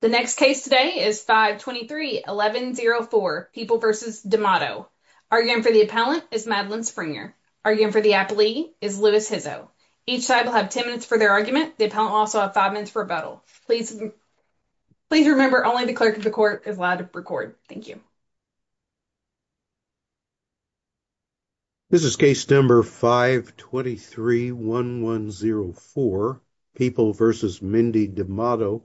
The next case today is 523-1104, People v. D'Amato. Arguing for the appellant is Madeline Springer. Arguing for the applee is Louis Hizzo. Each side will have 10 minutes for their argument. The appellant will also have 5 minutes for rebuttal. Please remember only the clerk of the court is allowed to record. Thank you. This is case number 523-1104, People v. Mindy D'Amato.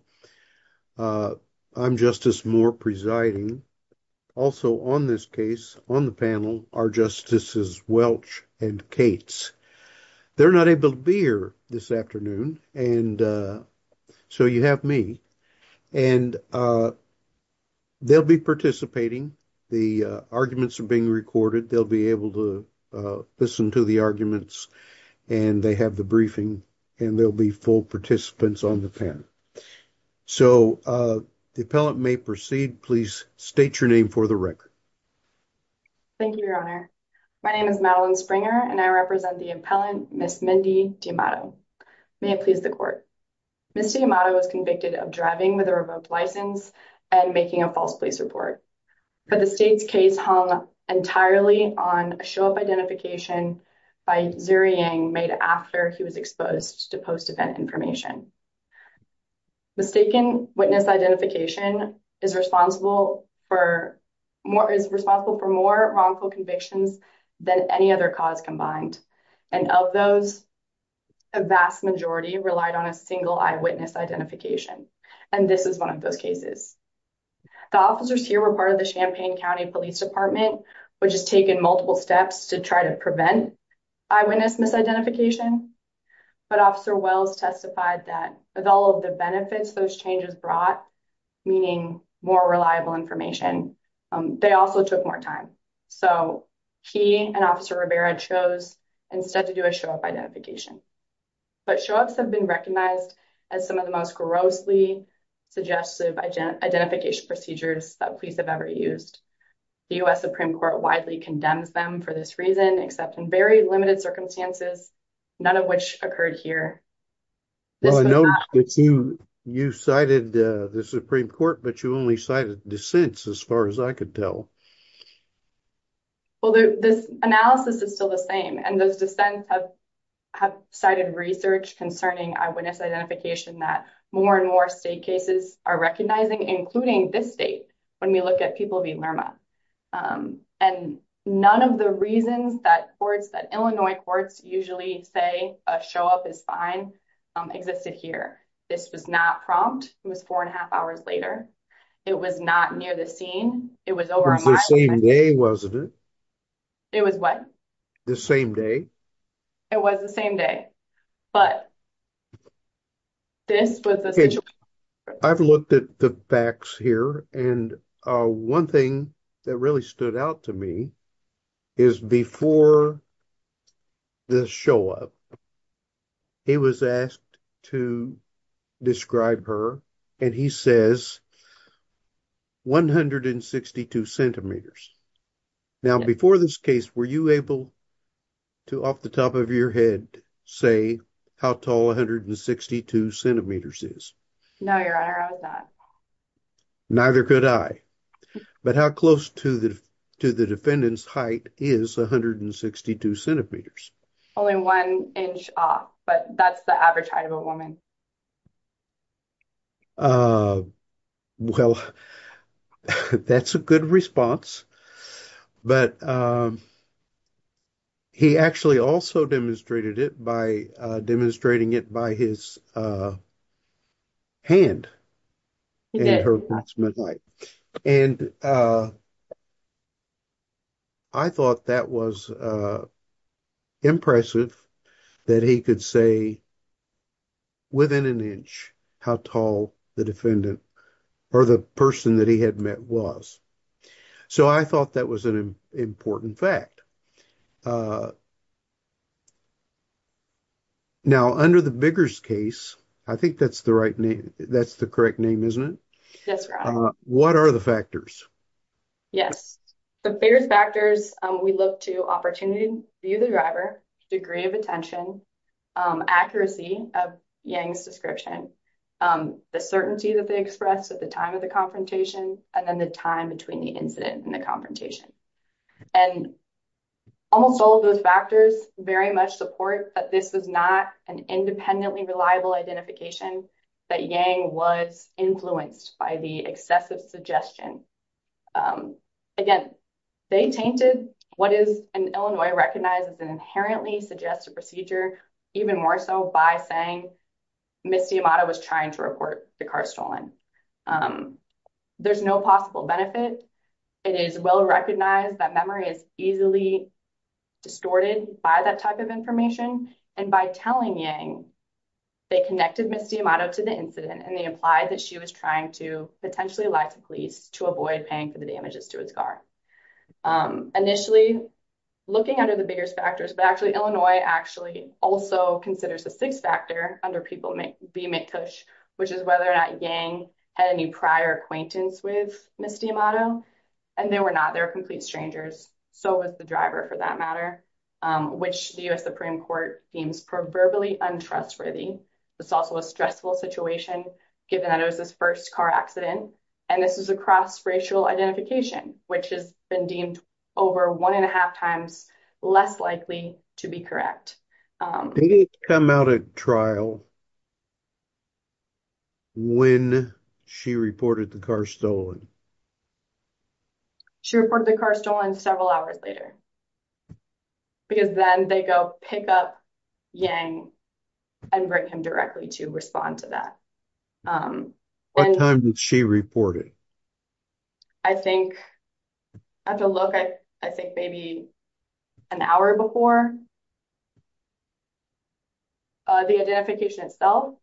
I'm Justice Moore presiding. Also on this case, on the panel, are Justices Welch and Cates. They're not able to be here this afternoon, and so you have me. And they'll be participating. The arguments are being recorded. They'll be able to listen to the arguments, and they have the briefing, and there'll be full participants on the panel. So the appellant may proceed. Please state your name for the record. Thank you, Your Honor. My name is Madeline Springer, and I represent the appellant, Ms. Mindy D'Amato. May it please the court. Ms. D'Amato was convicted of driving with a revoked license and making a false police report, but the state's case hung entirely on a show-up identification by Zeriang made after he was exposed to post-event information. Mistaken witness identification is responsible for more wrongful convictions than any other cause combined, and of those, a vast majority relied on a single eyewitness identification, and this is one of those cases. The officers here were part of the Champaign County Police Department, which has taken multiple steps to try to prevent eyewitness misidentification, but Officer Wells testified that with all of the benefits those changes brought, meaning more reliable information, they also took more time. So he and Officer Rivera chose instead to do a show-up identification. But show-ups have been recognized as some of the condemns them for this reason, except in very limited circumstances, none of which occurred here. You cited the Supreme Court, but you only cited dissents, as far as I could tell. Well, this analysis is still the same, and those dissents have cited research concerning eyewitness identification that more and more state cases are recognizing, including this state, when we look at people being learned. And none of the reasons that courts, that Illinois courts usually say a show-up is fine, existed here. This was not prompt. It was four and a half hours later. It was not near the scene. It was over a mile. It was the same day, wasn't it? It was what? The same day. It was the same day, but this was the situation. I've looked at the facts here, and one thing that really stood out to me is before the show-up, he was asked to describe her, and he says, 162 centimeters. Now, before this case, were you able to, off the top of your head, say how tall 162 centimeters is? No, Your Honor, I was not. Neither could I. But how close to the defendant's height is 162 centimeters? Only one inch off, but that's the average height of a woman. Well, that's a good response, but he actually also demonstrated it by demonstrating it by his hand, and I thought that was impressive that he could say within an inch how tall the defendant or the person that he had met was. So, I thought that was an important fact. Now, under the Biggers case, I think that's the right name. That's the correct name, isn't it? Yes, Your Honor. What are the factors? Yes, the biggest factors, we look to opportunity, view the driver, degree of attention, accuracy of Yang's description, the certainty that they expressed at the time of the confrontation, and then the time between the incident and the confrontation. And almost all of those factors very much support that this was not an independently reliable identification, that Yang was influenced by the excessive suggestion. Again, they tainted what is in Illinois recognized as an inherently suggestive procedure, even more so by saying Ms. D'Amato was trying to report the car stolen. There's no possible benefit. It is well recognized that memory is easily distorted by that type of information, and by telling Yang, they connected Ms. D'Amato to the incident, and they implied that she was trying to potentially lie to police to avoid paying for the damages to his car. Initially, looking under the Biggers factors, but actually, Illinois actually also considers a sixth factor under People v. McTush, which is whether or not Yang had any prior acquaintance with Ms. D'Amato, and they were not. They were complete strangers. So was the driver, for that matter, which the U.S. Supreme Court deems proverbially untrustworthy. It's also a stressful situation, given that it was his first car accident, and this is a cross-racial identification, which has been deemed over one and a half times less likely to be correct. They did come out at trial when she reported the car stolen. She reported the car stolen several hours later, because then they go pick up Yang and bring him directly to respond to that. What time did she report it? I think, I have to look, I think maybe an hour before the identification itself,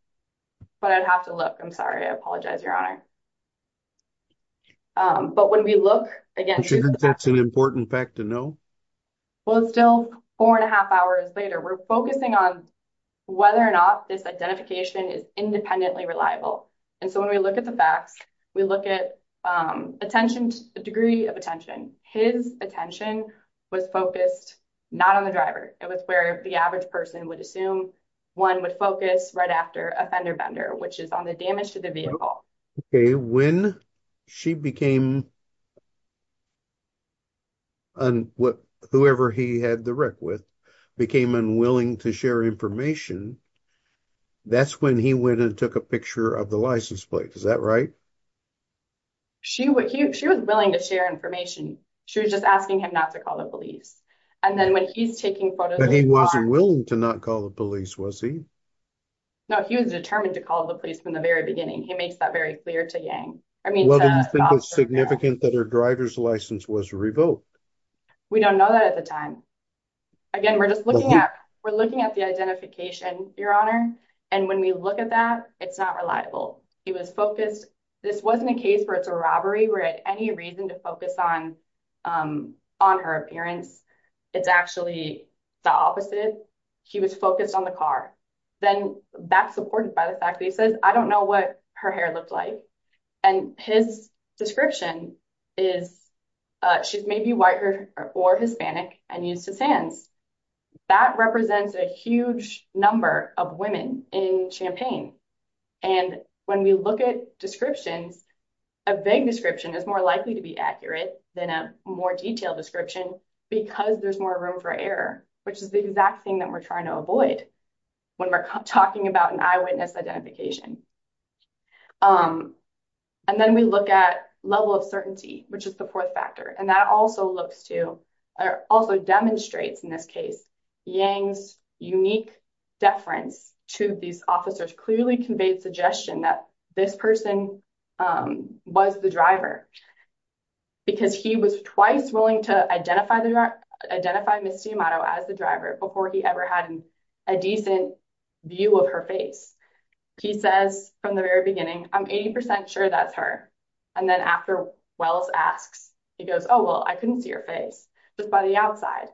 but I'd have to look. I'm sorry. I apologize, Your Honor. But when we look, again, she's- An important fact to know? Well, it's still four and a half hours later. We're focusing on whether or not this identification is independently reliable, and so when we look at the facts, we look at attention, a degree of attention. His attention was focused not on the driver. It was where the average person would assume one would focus right after a fender bender, which is on the damage to the vehicle. Okay. When she became, whoever he had the wreck with, became unwilling to share information, that's when he went and took a picture of the license plate. Is that right? She was willing to share information. She was just asking him not to call the police, and then when he's taking photos- But he wasn't willing to not call the police, was he? No, he was determined to call the police from the very beginning. He makes that very clear to Yang. I mean- Well, do you think it's significant that her driver's license was revoked? We don't know that at the time. Again, we're just looking at the identification, Your Honor, and when we look at that, it's not reliable. He was focused. This wasn't a case where it's a robbery. We're at any reason to focus on her appearance. It's actually the opposite. He was focused on the car. Then that's supported by the fact that he says, I don't know what her hair looked like, and his description is she's maybe white or Hispanic and used his hands. That represents a huge number of women in Champaign, and when we look at descriptions, a vague description is more likely to be accurate than a more detailed description because there's more room for error, which is the exact thing that we're trying to avoid when we're talking about an eyewitness identification. And then we look at level of certainty, which is the fourth factor, and that also looks to, or also demonstrates in this case, Yang's unique deference to these officers clearly conveyed suggestion that this person was the driver because he was twice willing to identify Misty Amato as the driver before he ever had a decent view of her face. He says from the very beginning, I'm 80% sure that's her, and then after Wells asks, he goes, oh, well, I couldn't see her face just by the outside,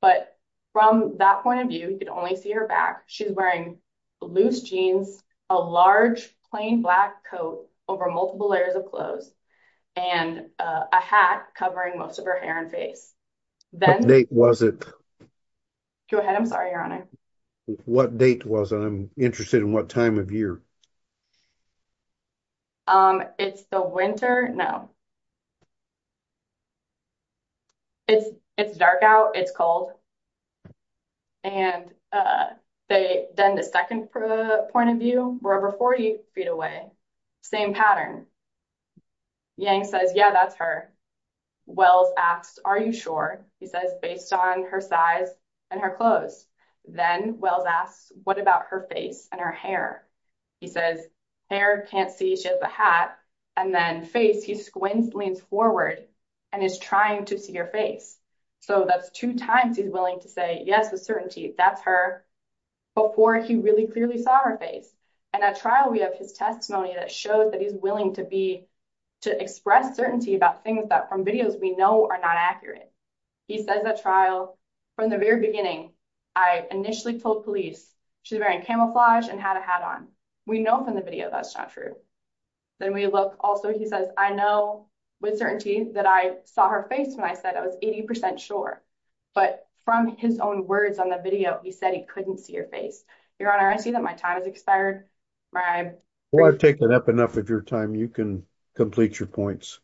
but from that point of view, you could only see her back. She's wearing loose jeans, a large plain black coat over multiple layers of clothes, and a hat covering most of her hair and face. What date was it? Go ahead. I'm sorry, Your Honor. What date was it? I'm interested in what time of year. It's the winter? No. It's dark out. It's cold. And then the second point of view, we're over 40 feet away. Same pattern. Yang says, yeah, that's her. Wells asks, are you sure? He says, based on her size and her clothes. Then Wells asks, what about her face and her hair? He says, hair, can't see, she has a hat. And then face, he leans forward and is trying to see her face. So that's two times he's willing to say, yes, with certainty, that's her, before he really clearly saw her face. And at trial, we have his testimony that shows that he's willing to be, to express certainty about things that from videos we know are not accurate. He says at trial, from the very beginning, I initially told police, she's wearing camouflage and had a hat on. We know from the video that's not true. Then we look also, he says, I know with certainty that I saw her face when I said I was 80% sure. But from his own words on the video, he said he couldn't see her face. Your honor, I see that my time has expired. Well, I've taken up enough of your time. You can complete your points.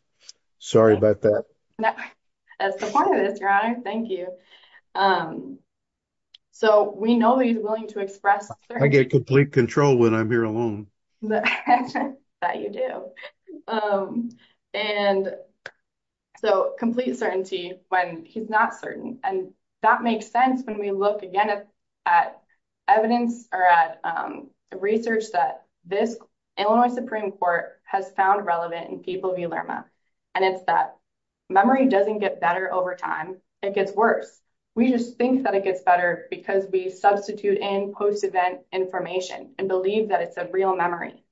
Sorry about that. That's the point of this, your honor. Thank you. So we know that he's willing to express- I get complete control when I'm here alone. That you do. And so complete certainty when he's not certain. And that makes sense when we look at evidence or at research that this Illinois Supreme Court has found relevant in people v. Lerma. And it's that memory doesn't get better over time, it gets worse. We just think that it gets better because we substitute in post-event information and believe that it's a real memory.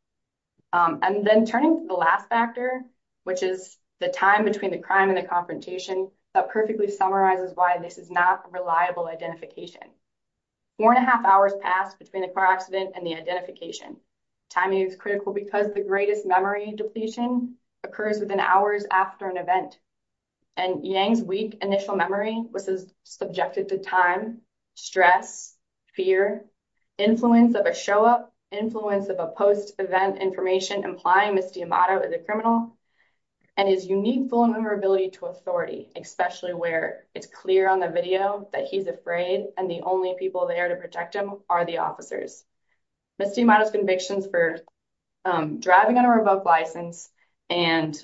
And then turning to the last factor, which is the time between the crime and the confrontation, that perfectly summarizes why this is not a reliable identification. Four and a half hours passed between the car accident and the identification. Timing is critical because the greatest memory depletion occurs within hours after an event. And Yang's weak initial memory was subjected to time, stress, fear, influence of a show-up, influence of a post-event information implying Ms. D'Amato is a criminal, and his unique vulnerability to authority, especially where it's clear on the video that he's afraid and the only people there to protect him are the officers. Ms. D'Amato's convictions for driving on a revoked license and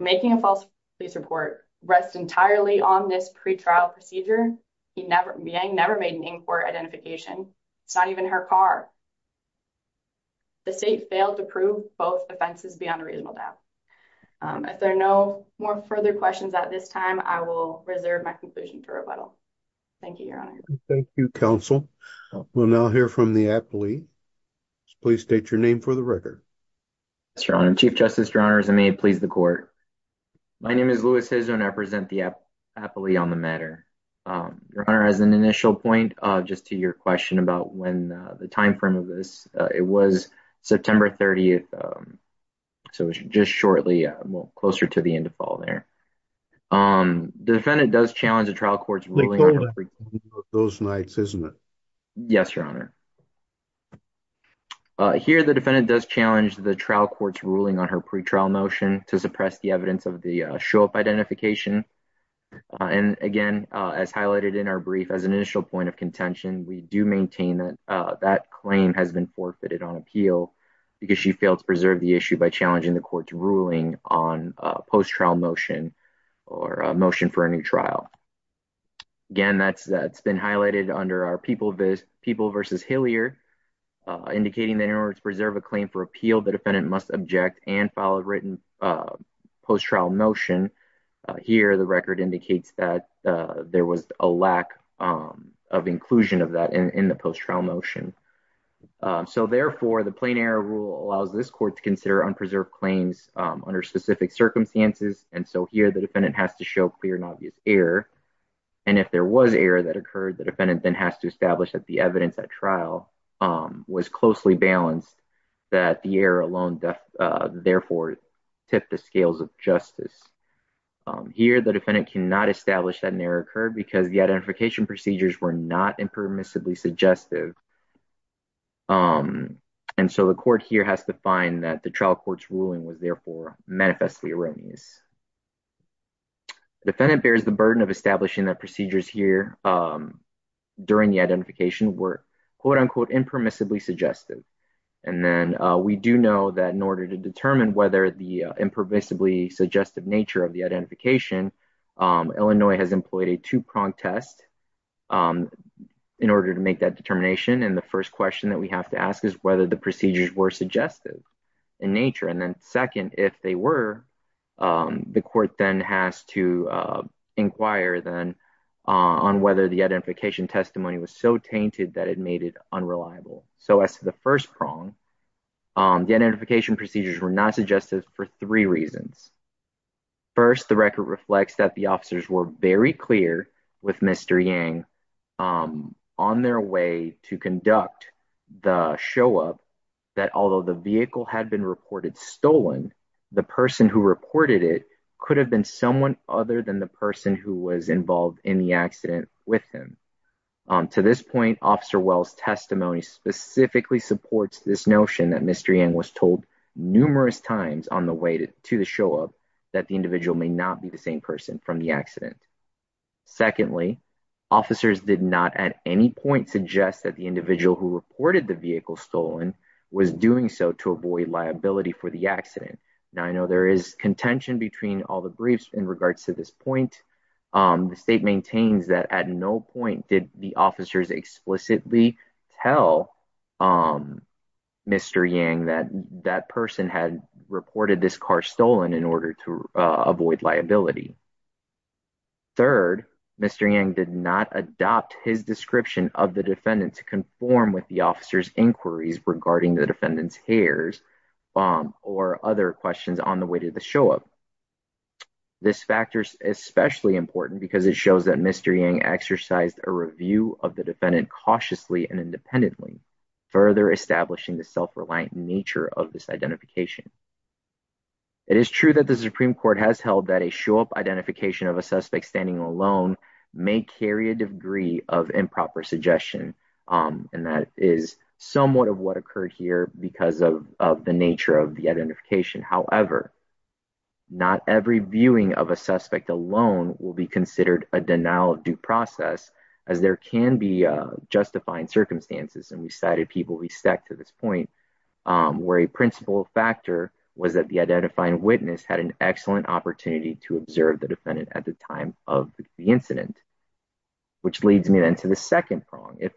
making a false police report rest entirely on this pretrial procedure. Yang never made an inquiry identification. It's not even her car. The state failed to prove both offenses beyond a reasonable doubt. If there are no more further questions at this time, I will reserve my conclusion for rebuttal. Thank you, Your Honor. Thank you, counsel. We'll now hear from the appellee. Please state your name for the record. Yes, Your Honor. Chief Justice, Your Honors, and may it please the court. My name is Louis Hizon. I represent the appellee on the matter. Your Honor, as an initial point, just to your question about when the time frame of this, it was September 30th, so it was just shortly, well, closer to the end of fall there. The defendant does challenge the trial court's ruling. Those nights, isn't it? Yes, Your Honor. Here, the defendant does challenge the trial court's ruling on her pretrial motion to suppress the evidence of the show-up identification. And again, as highlighted in our brief, as an initial point of contention, we do maintain that that claim has been forfeited on appeal because she failed to preserve the issue by challenging the court's ruling on a post-trial motion or a motion for a new trial. Again, that's been highlighted under our People v. Hillier, indicating that in order to preserve a claim for appeal, the defendant must object and file a written post-trial motion. Here, the record indicates that there was a lack of inclusion of that in the post-trial motion. So therefore, the plain error rule allows this court to consider unpreserved claims under specific circumstances. And so here, the defendant has to show clear and obvious error. And if there was error that occurred, the defendant then has to establish that the evidence at trial was closely balanced, that the error alone therefore tipped the scales of justice. Here, the defendant cannot establish that an error occurred because the identification procedures were not impermissibly suggestive. And so the court here has to find that the trial court's ruling was therefore manifestly erroneous. The defendant bears the burden of establishing that procedures here during the identification were quote-unquote impermissibly suggestive. And then we do know that in order to determine whether the impermissibly suggestive of the identification, Illinois has employed a two-prong test in order to make that determination. And the first question that we have to ask is whether the procedures were suggestive in nature. And then second, if they were, the court then has to inquire then on whether the identification testimony was so tainted that it made it unreliable. So as to the first prong, the identification procedures were not suggestive for three reasons. First, the record reflects that the officers were very clear with Mr. Yang on their way to conduct the show-up that although the vehicle had been reported stolen, the person who reported it could have been someone other than the person who was involved in the accident with him. To this point, Officer Wells' testimony specifically supports this notion that Mr. Yang was told numerous times on the way to the show-up that the individual may not be the same person from the accident. Secondly, officers did not at any point suggest that the individual who reported the vehicle stolen was doing so to avoid liability for the accident. Now I know there is contention between all the briefs in regards to this point. The state maintains that at no point did the officers explicitly tell Mr. Yang that that person had reported this car stolen in order to avoid liability. Third, Mr. Yang did not adopt his description of the defendant to conform with the officer's inquiries regarding the defendant's hairs or other questions on the way to the show-up. This factor is especially important because it shows that Mr. Yang exercised a review of the defendant cautiously and independently, further establishing the self-reliant nature of this identification. It is true that the Supreme Court has held that a show-up identification of a suspect standing alone may carry a degree of improper suggestion and that is somewhat of what occurred because of the nature of the identification. However, not every viewing of a suspect alone will be considered a denial of due process as there can be justifying circumstances and we cited people we stacked to this point where a principal factor was that the identifying witness had an excellent opportunity to observe the defendant at the time of the incident, which leads me then to the second prong. What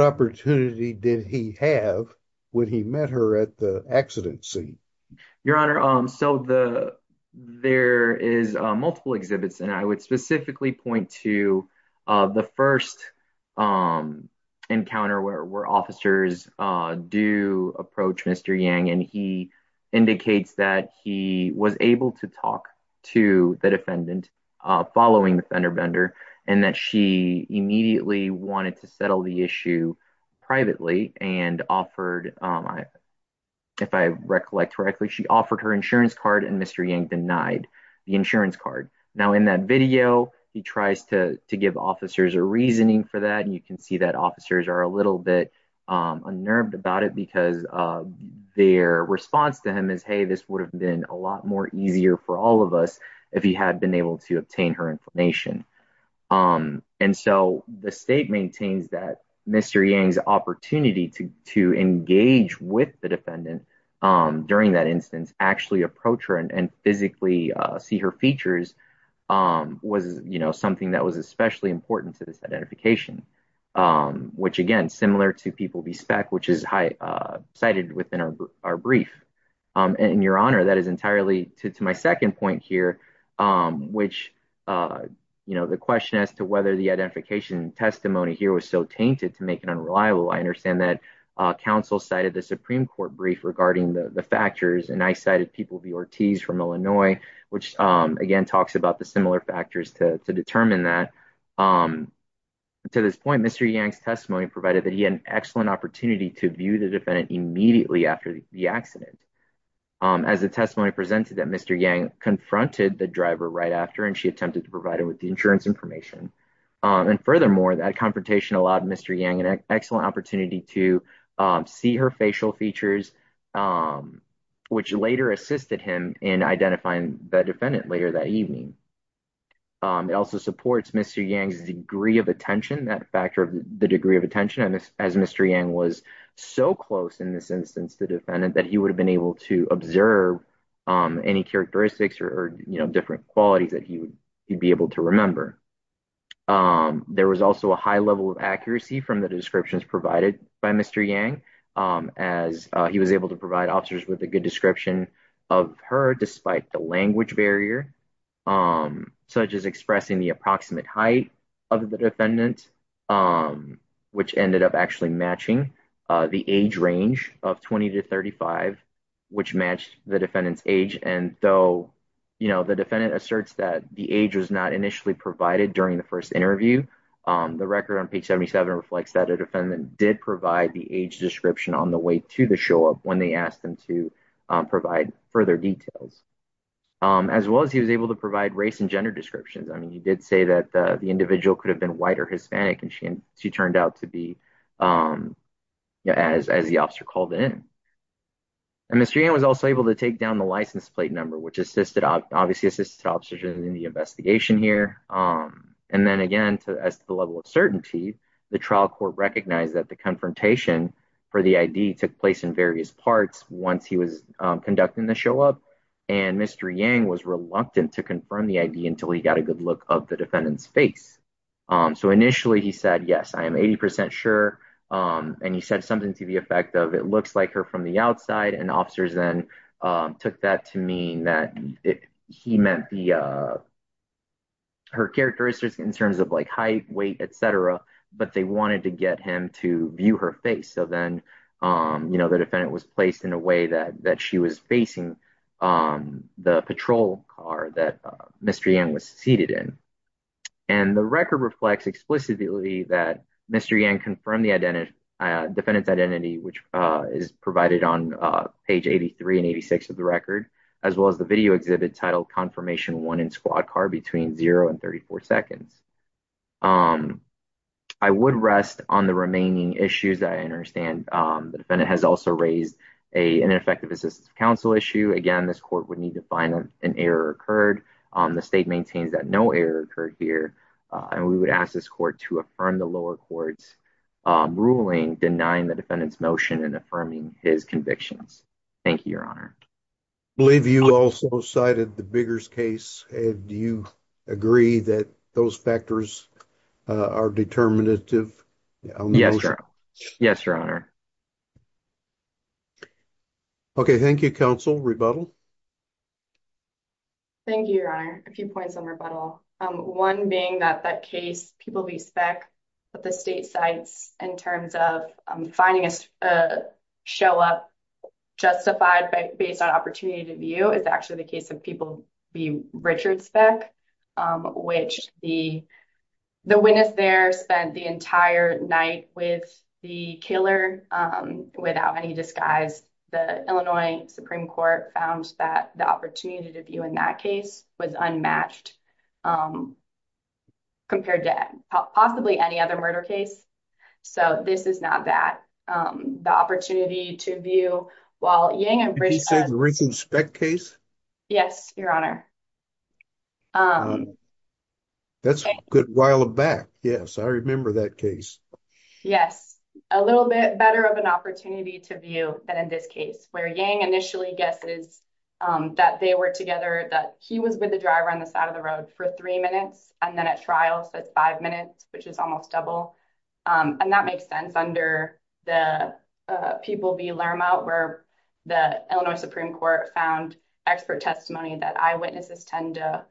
opportunity did he have when he met her at the accident scene? Your Honor, so there is multiple exhibits and I would specifically point to the first encounter where officers do approach Mr. Yang and he indicates that he was able to talk to the defendant following the fender bender and that she immediately wanted to settle the issue privately and offered, if I recollect correctly, she offered her insurance card and Mr. Yang denied the insurance card. Now, in that video, he tries to give officers a reasoning for that and you can see that officers are a little bit unnerved about it because their response to him is, hey, this would have been a lot more easier for all of us if he had been able to obtain her information. And so, the state maintains that Mr. Yang's opportunity to engage with the defendant during that instance, actually approach her and physically see her features was, you know, something that was especially important to this identification, which again, similar to People v. Speck, which is cited within our brief. And Your Honor, that is entirely to my second point here, which, you know, the question as to whether the identification testimony here was so tainted to unreliable. I understand that counsel cited the Supreme Court brief regarding the factors and I cited People v. Ortiz from Illinois, which again, talks about the similar factors to determine that. To this point, Mr. Yang's testimony provided that he had an excellent opportunity to view the defendant immediately after the accident. As the testimony presented that Mr. Yang confronted the driver right after and she attempted to provide him with the insurance information. And furthermore, that confrontation allowed Mr. Yang an excellent opportunity to see her facial features, which later assisted him in identifying the defendant later that evening. It also supports Mr. Yang's degree of attention, that factor of the degree of attention, as Mr. Yang was so close in this instance, the defendant, that he would have been able to observe any characteristics or, you know, different qualities that he would be able to remember. There was also a high level of accuracy from the descriptions provided by Mr. Yang, as he was able to provide officers with a good description of her despite the language barrier, such as expressing the approximate height of the defendant, which ended up actually matching the age range of 20 to 35, which matched the defendant's age. And though, you know, defendant asserts that the age was not initially provided during the first interview, the record on page 77 reflects that a defendant did provide the age description on the way to the show up when they asked them to provide further details, as well as he was able to provide race and gender descriptions. I mean, he did say that the individual could have been white or Hispanic and she turned out to be, as the officer called it in. And Mr. Yang was also to take down the license plate number, which assisted obviously assisted officers in the investigation here. And then again, as to the level of certainty, the trial court recognized that the confrontation for the ID took place in various parts once he was conducting the show up. And Mr. Yang was reluctant to confirm the ID until he got a good look of the defendant's face. So initially he said, yes, I am 80% sure. And he said something to the effect of, it looks like her from the outside. And officers then took that to mean that he meant her characteristics in terms of like height, weight, et cetera, but they wanted to get him to view her face. So then, you know, the defendant was placed in a way that she was facing the patrol car that Mr. Yang was seated in. And the record reflects explicitly that Mr. Yang confirmed defendant's identity, which is provided on page 83 and 86 of the record, as well as the video exhibit titled confirmation one in squad car between zero and 34 seconds. I would rest on the remaining issues that I understand. The defendant has also raised a ineffective assistance council issue. Again, this court would need to find an error occurred. The state maintains that no error occurred here. And we would ask this court to affirm the lower courts ruling denying the defendant's motion and affirming his convictions. Thank you, your honor. I believe you also cited the Biggers case. Do you agree that those factors are determinative? Yes, sir. Yes, your honor. Okay. Thank you. Counsel rebuttal. Thank you, your honor. A few points on rebuttal. One being that that case people be spec, but the state sites in terms of finding a show up, justified by based on opportunity to view is actually the case of people be Richard spec, which the the witness there spent the entire night with the killer. Without any disguise, the Illinois Supreme Court found that the opportunity to view in that case was unmatched. Compared to possibly any other murder case. So this is not that the opportunity to view while Yang and Bruce say the recent spec case. Yes, your honor. That's a good while back. Yes, I remember that case. Yes, a little bit better of an opportunity to view that in this case where Yang initially guesses that they were together that he was with the driver on the side of the road for three minutes. And then at trials, that's five minutes, which is almost double. And that makes sense under the people be learn out where the Illinois Supreme Court found expert testimony that eyewitnesses tend to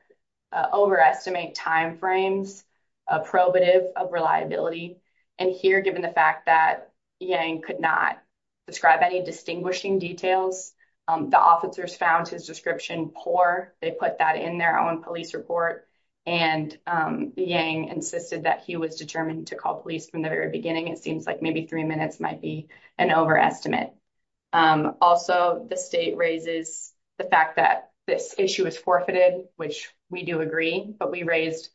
overestimate timeframes, probative of reliability. And here, given the fact that Yang could not describe any distinguishing details, the officers found his description poor, they put that in their own police report. And Yang insisted that he was determined to call police from the very beginning, it seems like maybe three minutes might be an overestimate. Also, the state raises the fact that this issue is forfeited, which we do agree, but we raised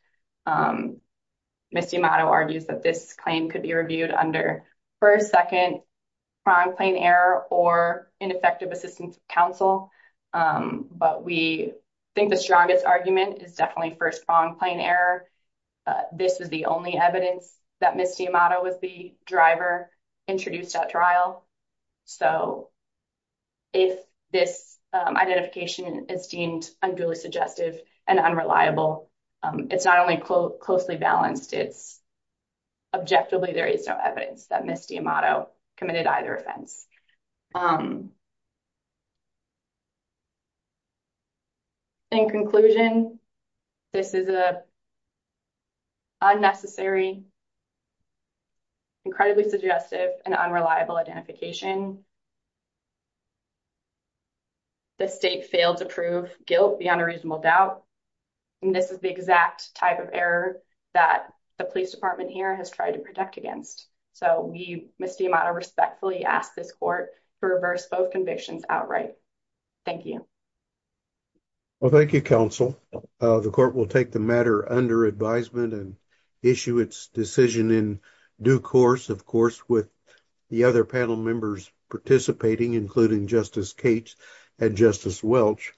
Misty motto argues that this claim could be ineffective assistance counsel. But we think the strongest argument is definitely first prong plane error. This is the only evidence that Misty motto was the driver introduced at trial. So if this identification is deemed unduly suggestive and unreliable, it's not only closely balanced, it's objectively there is no evidence that Misty motto committed either offense. In conclusion, this is a unnecessary, incredibly suggestive and unreliable identification. The state failed to prove guilt beyond a reasonable doubt. And this is the exact type of error that the police department here has tried to protect against. So we respectfully ask this court to reverse both convictions outright. Thank you. Well, thank you, counsel. The court will take the matter under advisement and issue its decision in due course, of course, with the other panel members participating, including Justice Kate and Justice Welch.